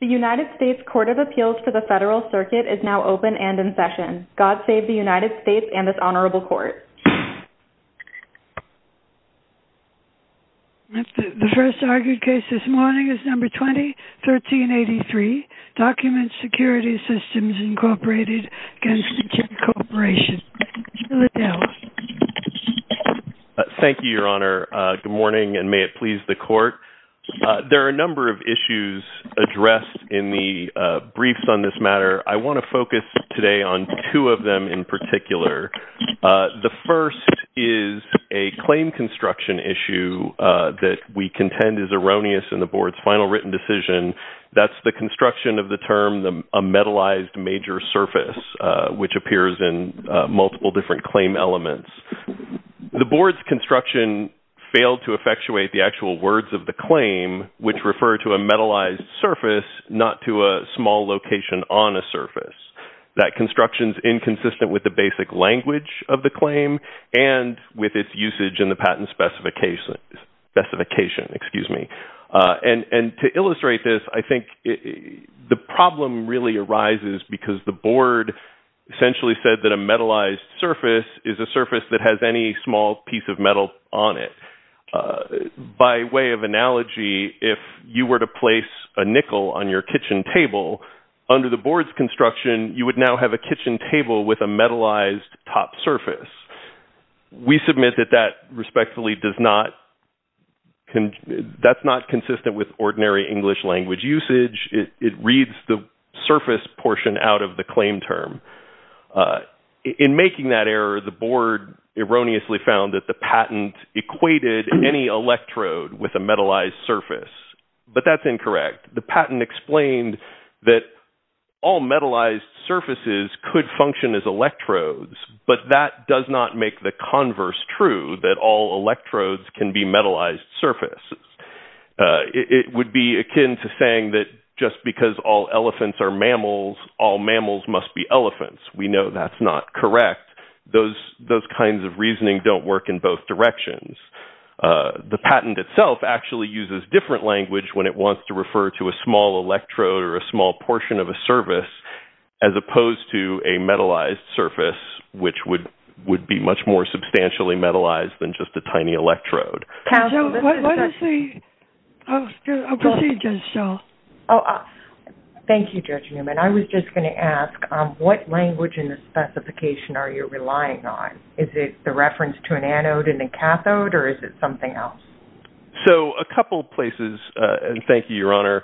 The United States Court of Appeals for the Federal Circuit is now open and in session. God save the United States and this Honorable Court. The first argued case this morning is number 20-1383, Document Security Systems, Inc. v. Nichia Corporation. Thank you, Your Honor. Good morning and may it please the Court. There are a number of issues addressed in the briefs on this matter. I want to focus today on two of them in particular. The first is a claim construction issue that we contend is erroneous in the Board's final written decision. That's the construction of the term a metalized major surface, which appears in multiple different claim elements. The Board's construction failed to effectuate the actual words of the claim, which refer to a metalized surface, not to a small location on a surface. That construction is inconsistent with the basic language of the claim and with its usage in the patent specification. To illustrate this, I think the problem really arises because the Board essentially said that a metalized surface is a surface that has any small piece of metal on it. By way of analogy, if you were to place a nickel on your kitchen table, under the Board's construction, you would now have a kitchen table with a metalized top surface. We submit that that respectfully does not, that's not consistent with ordinary English language usage. It reads the surface portion out of the claim term. In making that error, the Board erroneously found that the patent equated any electrode with a metalized surface. But that's incorrect. The patent explained that all metalized surfaces could function as electrodes, but that does not make the converse true, that all electrodes can be metalized surfaces. It would be akin to saying that just because all elephants are mammals, all mammals must be elephants. We know that's not correct. Those kinds of reasoning don't work in both directions. The patent itself actually uses different language when it wants to refer to a small electrode or a small portion of a surface, as opposed to a metalized surface, which would be much more substantially metalized than just a tiny electrode. What is the procedure, Cheryl? Thank you, Judge Newman. I was just going to ask, what language in the specification are you relying on? Is it the reference to an anode and a cathode, or is it something else? So, a couple places, and thank you, Your Honor.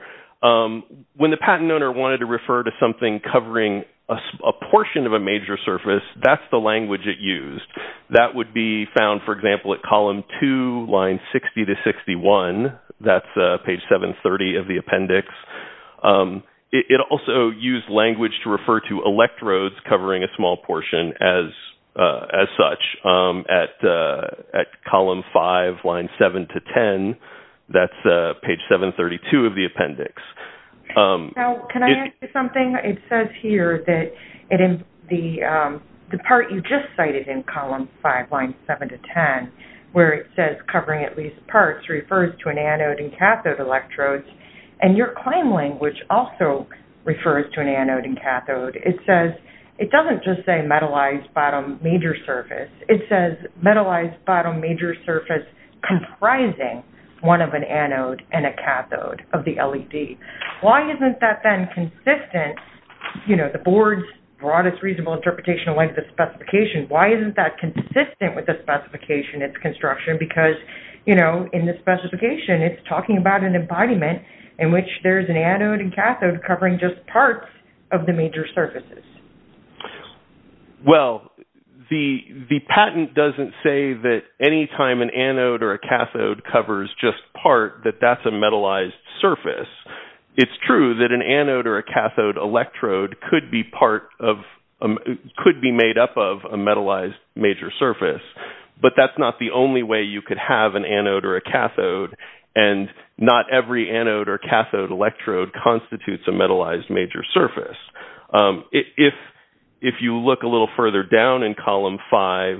When the patent owner wanted to refer to something covering a portion of a major surface, that's the language it used. That would be found, for example, at column 2, line 60 to 61. That's page 730 of the appendix. It also used language to refer to electrodes covering a small portion, as such, at column 5, line 7 to 10. That's page 732 of the appendix. Now, can I add something? It says here that the part you just cited in column 5, line 7 to 10, where it says covering at least parts, refers to an anode and cathode electrode. And your claim language also refers to an anode and cathode. It doesn't just say metalized bottom major surface. It says metalized bottom major surface comprising one of an anode and a cathode of the LED. Why isn't that then consistent, you know, the board's broadest reasonable interpretation of length of specification, why isn't that consistent with the specification of construction? Because, you know, in the specification, it's talking about an embodiment in which there's an anode and cathode covering just parts of the major surfaces. Well, the patent doesn't say that any time an anode or a cathode covers just part, that that's a metalized surface. It's true that an anode or a cathode electrode could be part of, could be made up of a metalized major surface. But that's not the only way you could have an anode or a cathode, and not every anode or cathode electrode constitutes a metalized major surface. If you look a little further down in column five,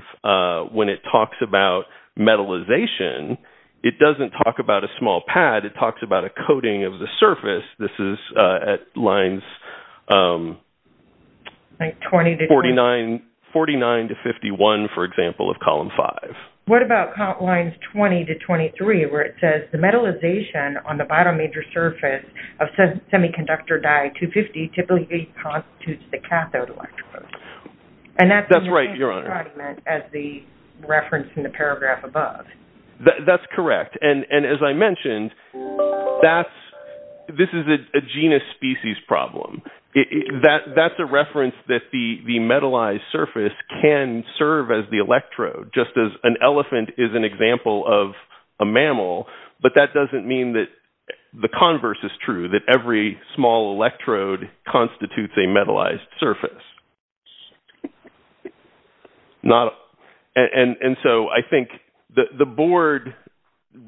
when it talks about metalization, it doesn't talk about a small pad, it talks about a coating of the surface. This is at lines 49 to 51, for example, of column five. What about lines 20 to 23, where it says the metalization on the bottom major surface of semiconductor diode 250 typically constitutes the cathode electrode? And that's the reference in the paragraph above. That's correct. And as I mentioned, this is a genus species problem. That's a reference that the metalized surface can serve as the electrode, just as an elephant is an example of a mammal. But that doesn't mean that the converse is true, that every small electrode constitutes a metalized surface. And so I think the board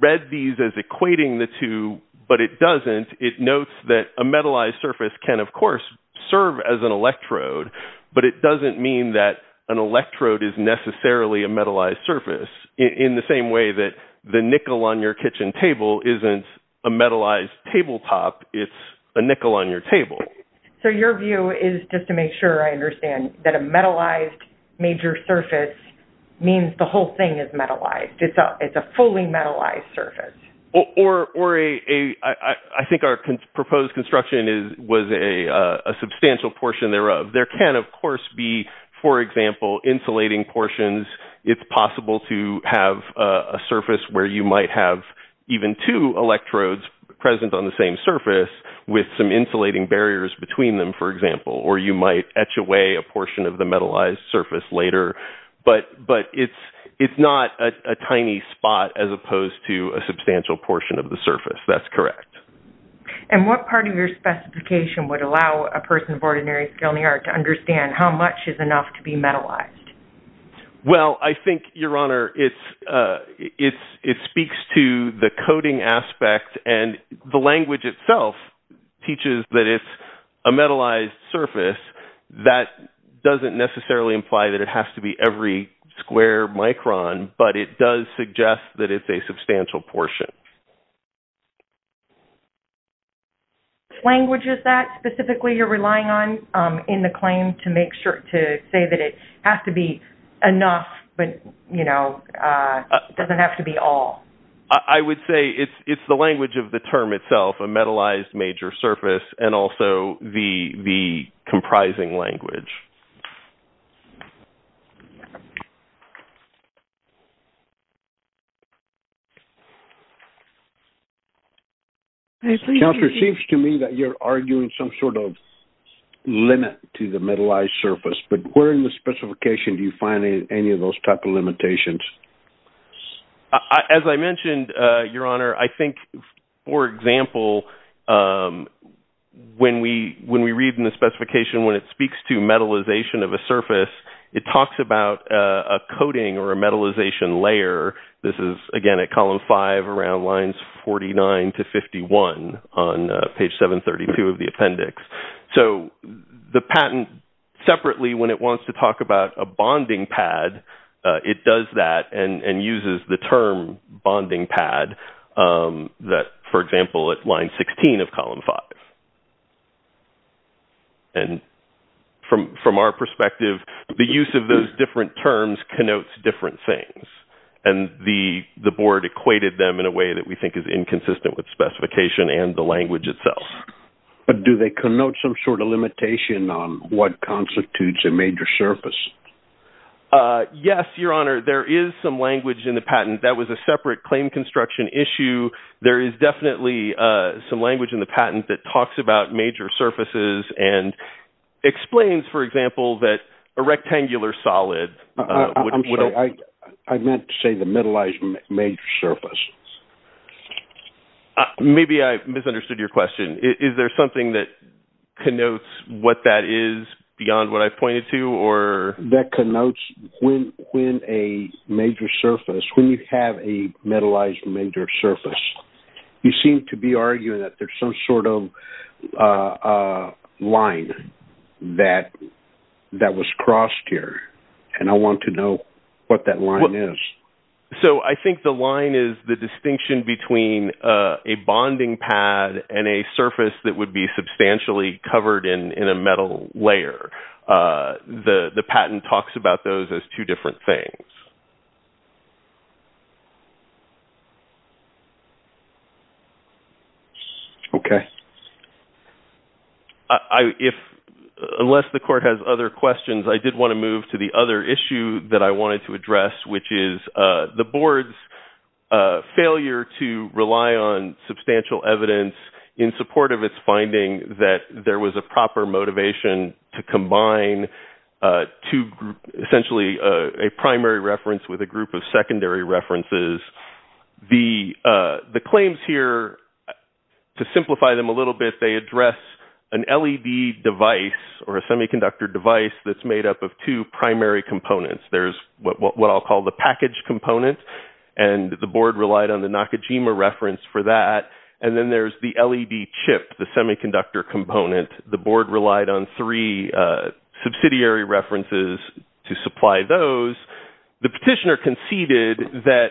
read these as equating the two, but it doesn't. It notes that a metalized surface can, of course, serve as an electrode, but it doesn't mean that an electrode is necessarily a metalized surface, in the same way that the nickel on your kitchen table isn't a metalized tabletop, it's a nickel on your table. So your view is, just to make sure I understand, that a metalized major surface means the whole thing is metalized. It's a fully metalized surface. I think our proposed construction was a substantial portion thereof. There can, of course, be, for example, insulating portions. It's possible to have a surface where you might have even two electrodes present on the same surface, with some insulating barriers between them, for example. Or you might etch away a portion of the metalized surface later. But it's not a tiny spot, as opposed to a substantial portion of the surface. That's correct. And what part of your specification would allow a person of ordinary skill in the art to understand how much is enough to be metalized? Well, I think, Your Honor, it speaks to the coding aspect, and the language itself teaches that it's a metalized surface. That doesn't necessarily imply that it has to be every square micron, but it does suggest that it's a substantial portion. What language is that specifically you're relying on in the claim to make sure to say that it has to be enough, but doesn't have to be all? I would say it's the language of the term itself, a metalized major surface, and also the comprising language. Counselor, it seems to me that you're arguing some sort of limit to the metalized surface. But where in the specification do you find any of those type of limitations? As I mentioned, Your Honor, I think, for example, when we read in the specification when it speaks to metalization of a surface, it talks about a coding or a metalization layer. This is, again, at column 5 around lines 49 to 51 on page 732 of the appendix. So the patent, separately, when it wants to talk about a bonding pad, it does that and uses the term bonding pad, for example, at line 16 of column 5. And from our perspective, the use of those different terms connotes different things. And the board equated them in a way that we think is inconsistent with specification and the language itself. But do they connote some sort of limitation on what constitutes a major surface? Yes, Your Honor. There is some language in the patent. That was a separate claim construction issue. There is definitely some language in the patent that talks about major surfaces and explains, for example, that a rectangular solid… I meant to say the metalized major surface. Maybe I misunderstood your question. Is there something that connotes what that is beyond what I pointed to? That connotes when a major surface, when you have a metalized major surface, you seem to be arguing that there's some sort of line that was crossed here. And I want to know what that line is. So I think the line is the distinction between a bonding pad and a surface that would be substantially covered in a metal layer. The patent talks about those as two different things. Okay. Unless the court has other questions, I did want to move to the other issue that I wanted to address, which is the board's failure to rely on substantial evidence in support of its finding that there was a proper motivation to combine essentially a primary reference with a group of secondary references. The claims here, to simplify them a little bit, they address an LED device or a semiconductor device that's made up of two primary components. There's what I'll call the package component, and the board relied on the Nakajima reference for that. And then there's the LED chip, the semiconductor component. The board relied on three subsidiary references to supply those. The petitioner conceded that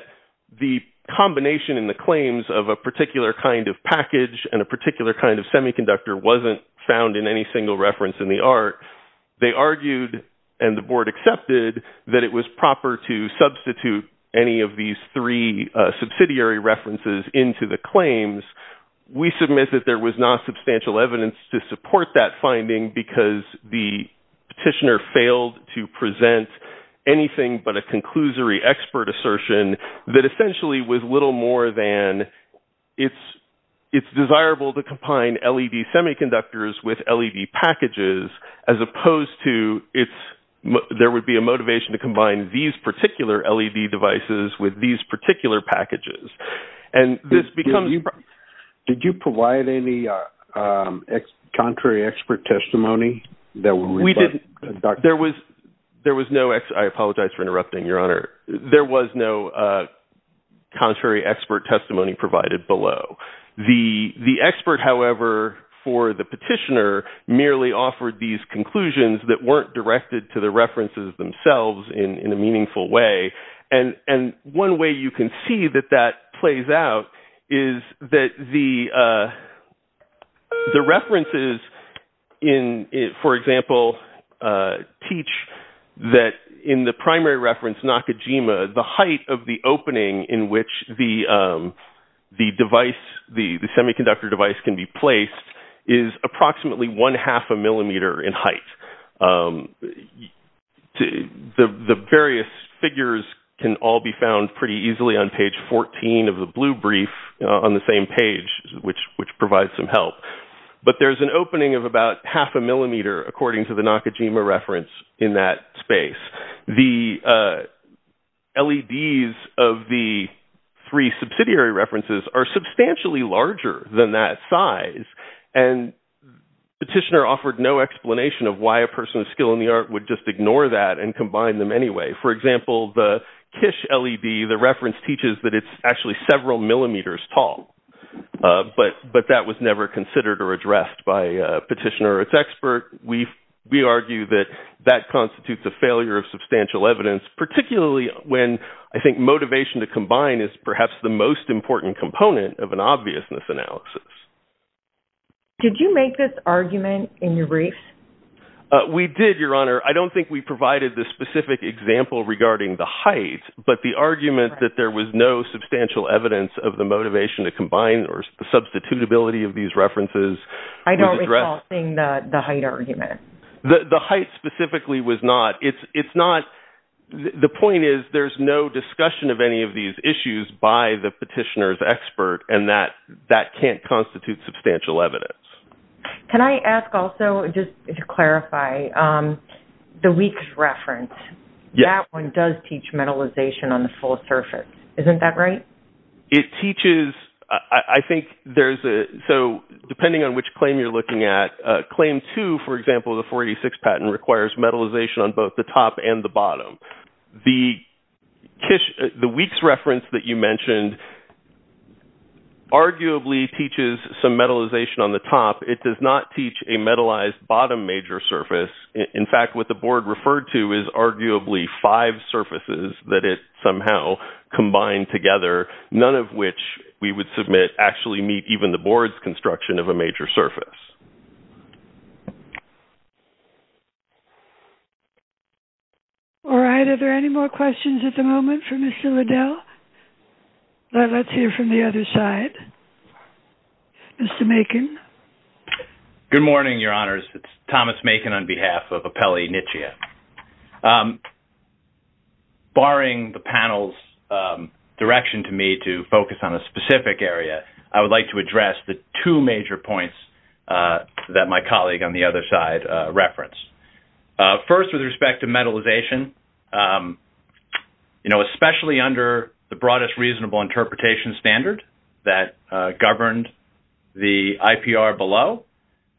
the combination in the claims of a particular kind of package and a particular kind of semiconductor wasn't found in any single reference in the art. They argued, and the board accepted, that it was proper to substitute any of these three subsidiary references into the claims. We submit that there was not substantial evidence to support that finding because the petitioner failed to present anything but a conclusory expert assertion that essentially was little more than it's desirable to combine LED semiconductors with LED packages as opposed to there would be a motivation to combine these particular LED devices with these particular packages. Did you provide any contrary expert testimony? I apologize for interrupting, Your Honor. There was no contrary expert testimony provided below. The expert, however, for the petitioner merely offered these conclusions that weren't directed to the references themselves in a meaningful way. One way you can see that that plays out is that the references, for example, teach that in the primary reference, Nakajima, the height of the opening in which the semiconductor device can be placed is approximately one-half a millimeter in height. The various figures can all be found pretty easily on page 14 of the blue brief on the same page, which provides some help. But there's an opening of about half a millimeter according to the Nakajima reference in that space. The LEDs of the three subsidiary references are substantially larger than that size. And the petitioner offered no explanation of why a person of skill in the art would just ignore that and combine them anyway. For example, the KISH LED, the reference teaches that it's actually several millimeters tall. But that was never considered or addressed by a petitioner or its expert. We argue that that constitutes a failure of substantial evidence, particularly when I think motivation to combine is perhaps the most important component of an obviousness analysis. Did you make this argument in your brief? We did, Your Honor. I don't think we provided the specific example regarding the height, but the argument that there was no substantial evidence of the motivation to combine or the substitutability of these references. I don't recall seeing the height argument. The height specifically was not. The point is there's no discussion of any of these issues by the petitioner's expert, and that can't constitute substantial evidence. Can I ask also, just to clarify, the weak reference, that one does teach metallization on the full surface. Isn't that right? It teaches, I think there's a, so depending on which claim you're looking at, claim two, for example, the 486 patent requires metallization on both the top and the bottom. The weak reference that you mentioned arguably teaches some metallization on the top. It does not teach a metallized bottom major surface. In fact, what the board referred to is arguably five surfaces that it somehow combined together, none of which we would submit actually meet even the board's construction of a major surface. All right. Are there any more questions at the moment for Mr. Liddell? Let's hear from the other side. Mr. Macon. Good morning, Your Honors. It's Thomas Macon on behalf of Appelli Nitsche. Barring the panel's direction to me to focus on a specific area, I would like to address the two major points that my colleague on the other side referenced. First, with respect to metallization, you know, especially under the broadest reasonable interpretation standard that governed the IPR below,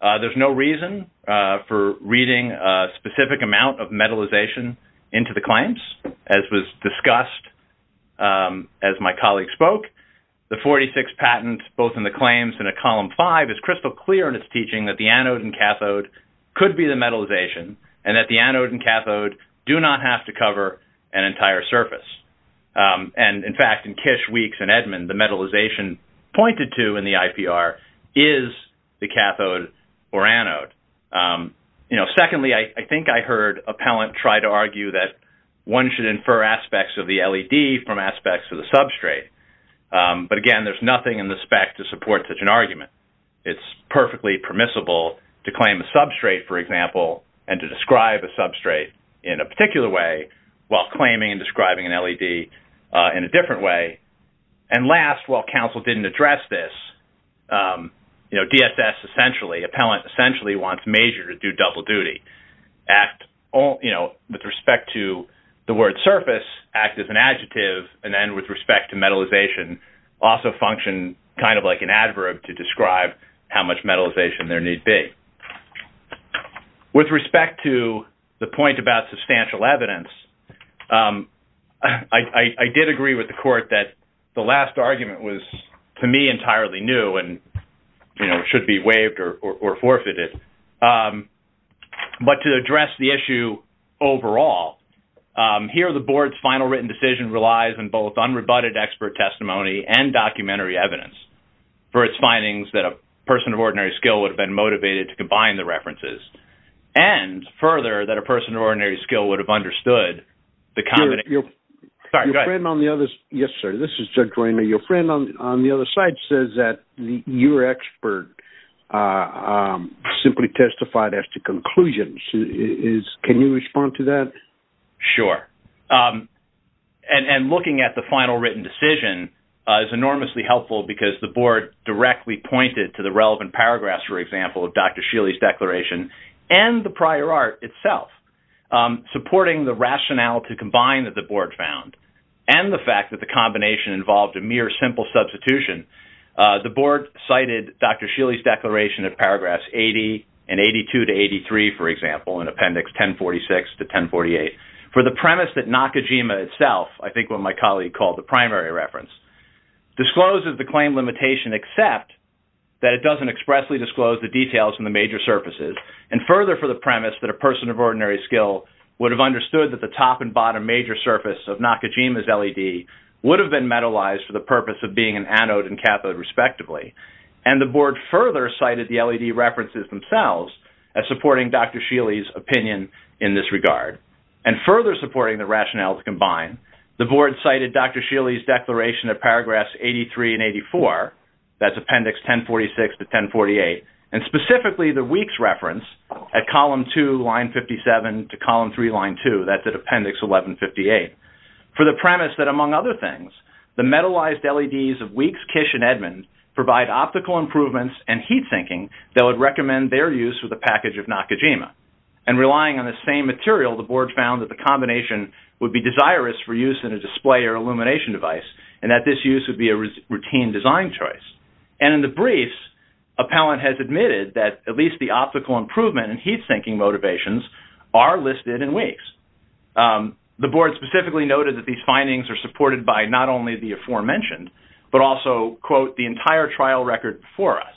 there's no reason for reading a specific amount of metallization into the claims, as was discussed as my colleague spoke. The 486 patent, both in the claims and in Column 5, is crystal clear in its teaching that the anode and cathode could be the metallization and that the anode and cathode do not have to cover an entire surface. And, in fact, in Kish, Weeks, and Edmund, the metallization pointed to in the IPR is the cathode or anode. You know, secondly, I think I heard Appellant try to argue that one should infer aspects of the LED from aspects of the substrate. But, again, there's nothing in the spec to support such an argument. It's perfectly permissible to claim a substrate, for example, and to describe a substrate in a particular way while claiming and describing an LED in a different way. And, last, while counsel didn't address this, you know, DSS essentially, Appellant essentially, wants Major to do double duty, act, you know, with respect to the word surface, act as an adjective, and then with respect to metallization, also function kind of like an adverb to describe how much metallization there need be. With respect to the point about substantial evidence, I did agree with the Court that the last argument was, to me, entirely new and, you know, should be waived or forfeited. But to address the issue overall, here the Board's final written decision relies on both unrebutted expert testimony and documentary evidence for its findings that a person of ordinary skill would have been motivated to combine the references and, further, that a person of ordinary skill would have understood the combination. Your friend on the other side says that your expert simply testified as to conclusions. Can you respond to that? Sure. And looking at the final written decision is enormously helpful because the Board directly pointed to the relevant paragraphs, for example, of Dr. Scheele's declaration and the prior art itself, supporting the rationale to combine that the Board found and the fact that the combination involved a mere simple substitution. The Board cited Dr. Scheele's declaration in paragraphs 80 and 82 to 83, for example, in Appendix 1046 to 1048 for the premise that Nakajima itself, I think what my colleague called the primary reference, discloses the claim limitation except that it doesn't expressly disclose the details in the major surfaces and, further, for the premise that a person of ordinary skill would have understood that the top and bottom major surface of Nakajima's LED would have been metallized for the purpose of being an anode and cathode, respectively. And the Board further cited the LED references themselves as supporting Dr. Scheele's opinion in this regard. And further supporting the rationale to combine, the Board cited Dr. Scheele's declaration of paragraphs 83 and 84, that's Appendix 1046 to 1048, and specifically the WEEKS reference at Column 2, Line 57, to Column 3, Line 2, that's at Appendix 1158, for the premise that, among other things, the metallized LEDs of WEEKS, KISH, and Edmunds provide optical improvements and heat thinking that would recommend their use with a package of Nakajima. And relying on the same material, the Board found that the combination would be desirous for use in a display or illumination device and that this use would be a routine design choice. And in the briefs, Appellant has admitted that at least the optical improvement and heat thinking motivations are listed in WEEKS. The Board specifically noted that these findings are supported by not only the aforementioned, but also, quote, the entire trial record before us.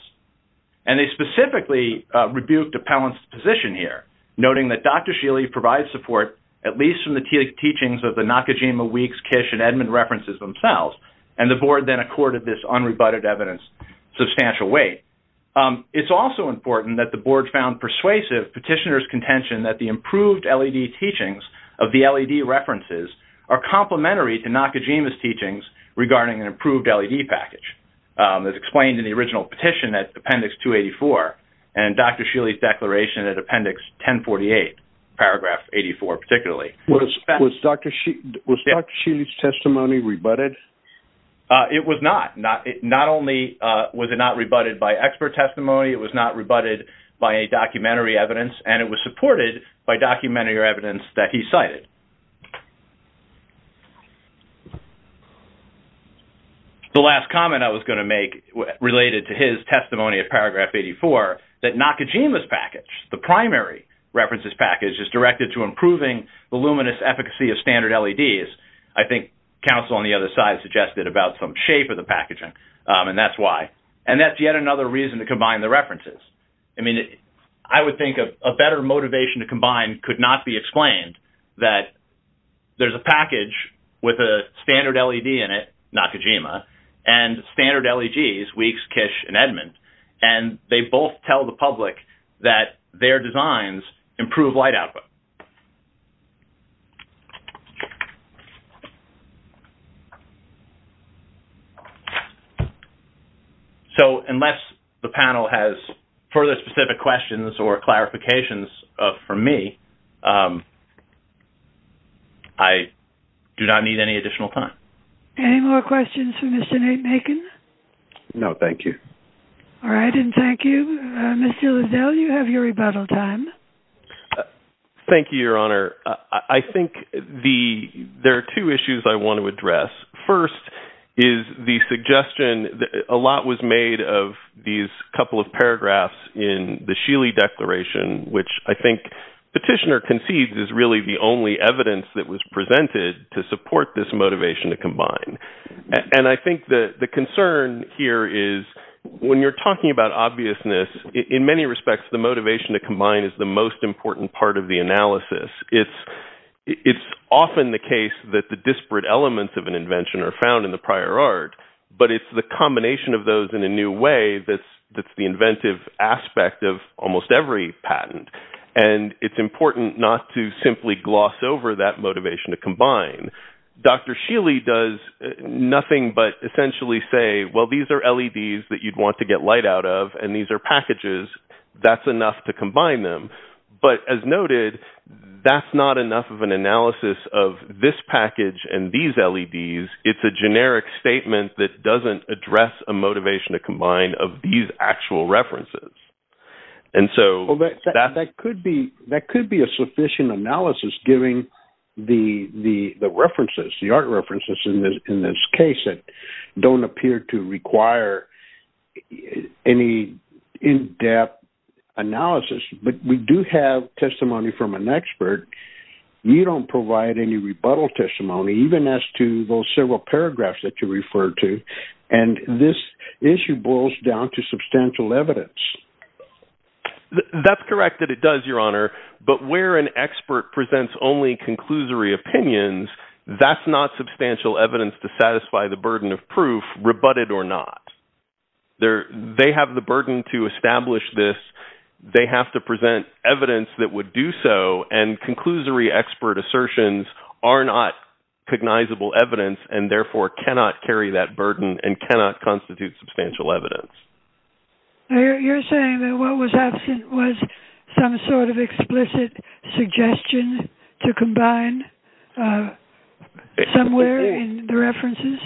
And they specifically rebuked Appellant's position here, noting that Dr. Scheele provides support, at least from the teachings of the Nakajima, WEEKS, KISH, and Edmund references themselves, and the Board then accorded this unrebutted evidence substantial weight. It's also important that the Board found persuasive Petitioner's contention that the improved LED teachings of the LED references are complementary to Nakajima's teachings regarding an improved LED package, as explained in the original petition at Appendix 284 and Dr. Scheele's declaration at Appendix 1048, Paragraph 84 particularly. Was Dr. Scheele's testimony rebutted? It was not. Not only was it not rebutted by expert testimony, it was not rebutted by a documentary evidence, and it was supported by documentary evidence that he cited. The last comment I was going to make related to his testimony of Paragraph 84, that Nakajima's package, the primary references package, is directed to improving the luminous efficacy of standard LEDs, I think counsel on the other side suggested about some shape of the packaging, and that's why. And that's yet another reason to combine the references. I mean, I would think a better motivation to combine could not be explained that there's a package with a standard LED in it, Nakajima, and standard LEDs, Weeks, Kish, and Edmond, and they both tell the public that their designs improve light output. So, unless the panel has further specific questions or clarifications for me, I do not need any additional time. Any more questions for Mr. Naken? No, thank you. All right, and thank you. Mr. Lizell, you have your rebuttal time. Thank you, Your Honor. I think there are two issues I want to address. First is the suggestion that a lot was made of these couple of paragraphs in the Sheely Declaration, which I think Petitioner concedes is really the only evidence that was presented to support this motivation to combine. And I think the concern here is when you're talking about obviousness, in many respects, the motivation to combine is the most important part of the analysis. It's often the case that the disparate elements of an invention are found in the prior art, but it's the combination of those in a new way that's the inventive aspect of almost every patent. And it's important not to simply gloss over that motivation to combine. Dr. Sheely does nothing but essentially say, well, these are LEDs that you'd want to get light out of, and these are packages. That's enough to combine them. But as noted, that's not enough of an analysis of this package and these LEDs. It's a generic statement that doesn't address a motivation to combine of these actual references. And so that could be a sufficient analysis, given the art references in this case that don't appear to require any in-depth analysis. But we do have testimony from an expert. You don't provide any rebuttal testimony, even as to those several paragraphs that you referred to, and this issue boils down to substantial evidence. That's correct that it does, Your Honor. But where an expert presents only conclusory opinions, that's not substantial evidence to satisfy the burden of proof, rebutted or not. They have the burden to establish this. They have to present evidence that would do so, and conclusory expert assertions are not cognizable evidence and therefore cannot carry that burden and cannot constitute substantial evidence. You're saying that what was absent was some sort of explicit suggestion to combine somewhere in the references?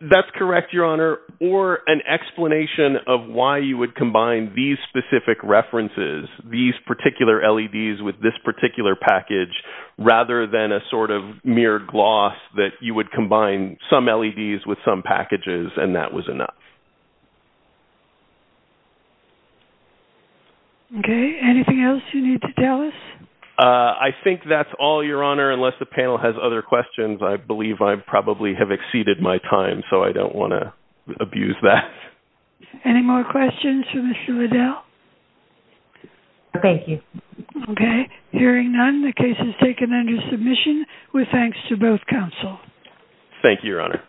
That's correct, Your Honor. Or an explanation of why you would combine these specific references, these particular LEDs with this particular package, rather than a sort of mere gloss that you would combine some LEDs with some packages, and that was enough. Okay. Anything else you need to tell us? I think that's all, Your Honor, unless the panel has other questions. I believe I probably have exceeded my time, so I don't want to abuse that. Any more questions for Mr. Liddell? No, thank you. Okay. Hearing none, the case is taken under submission with thanks to both counsel. Thank you, Your Honor.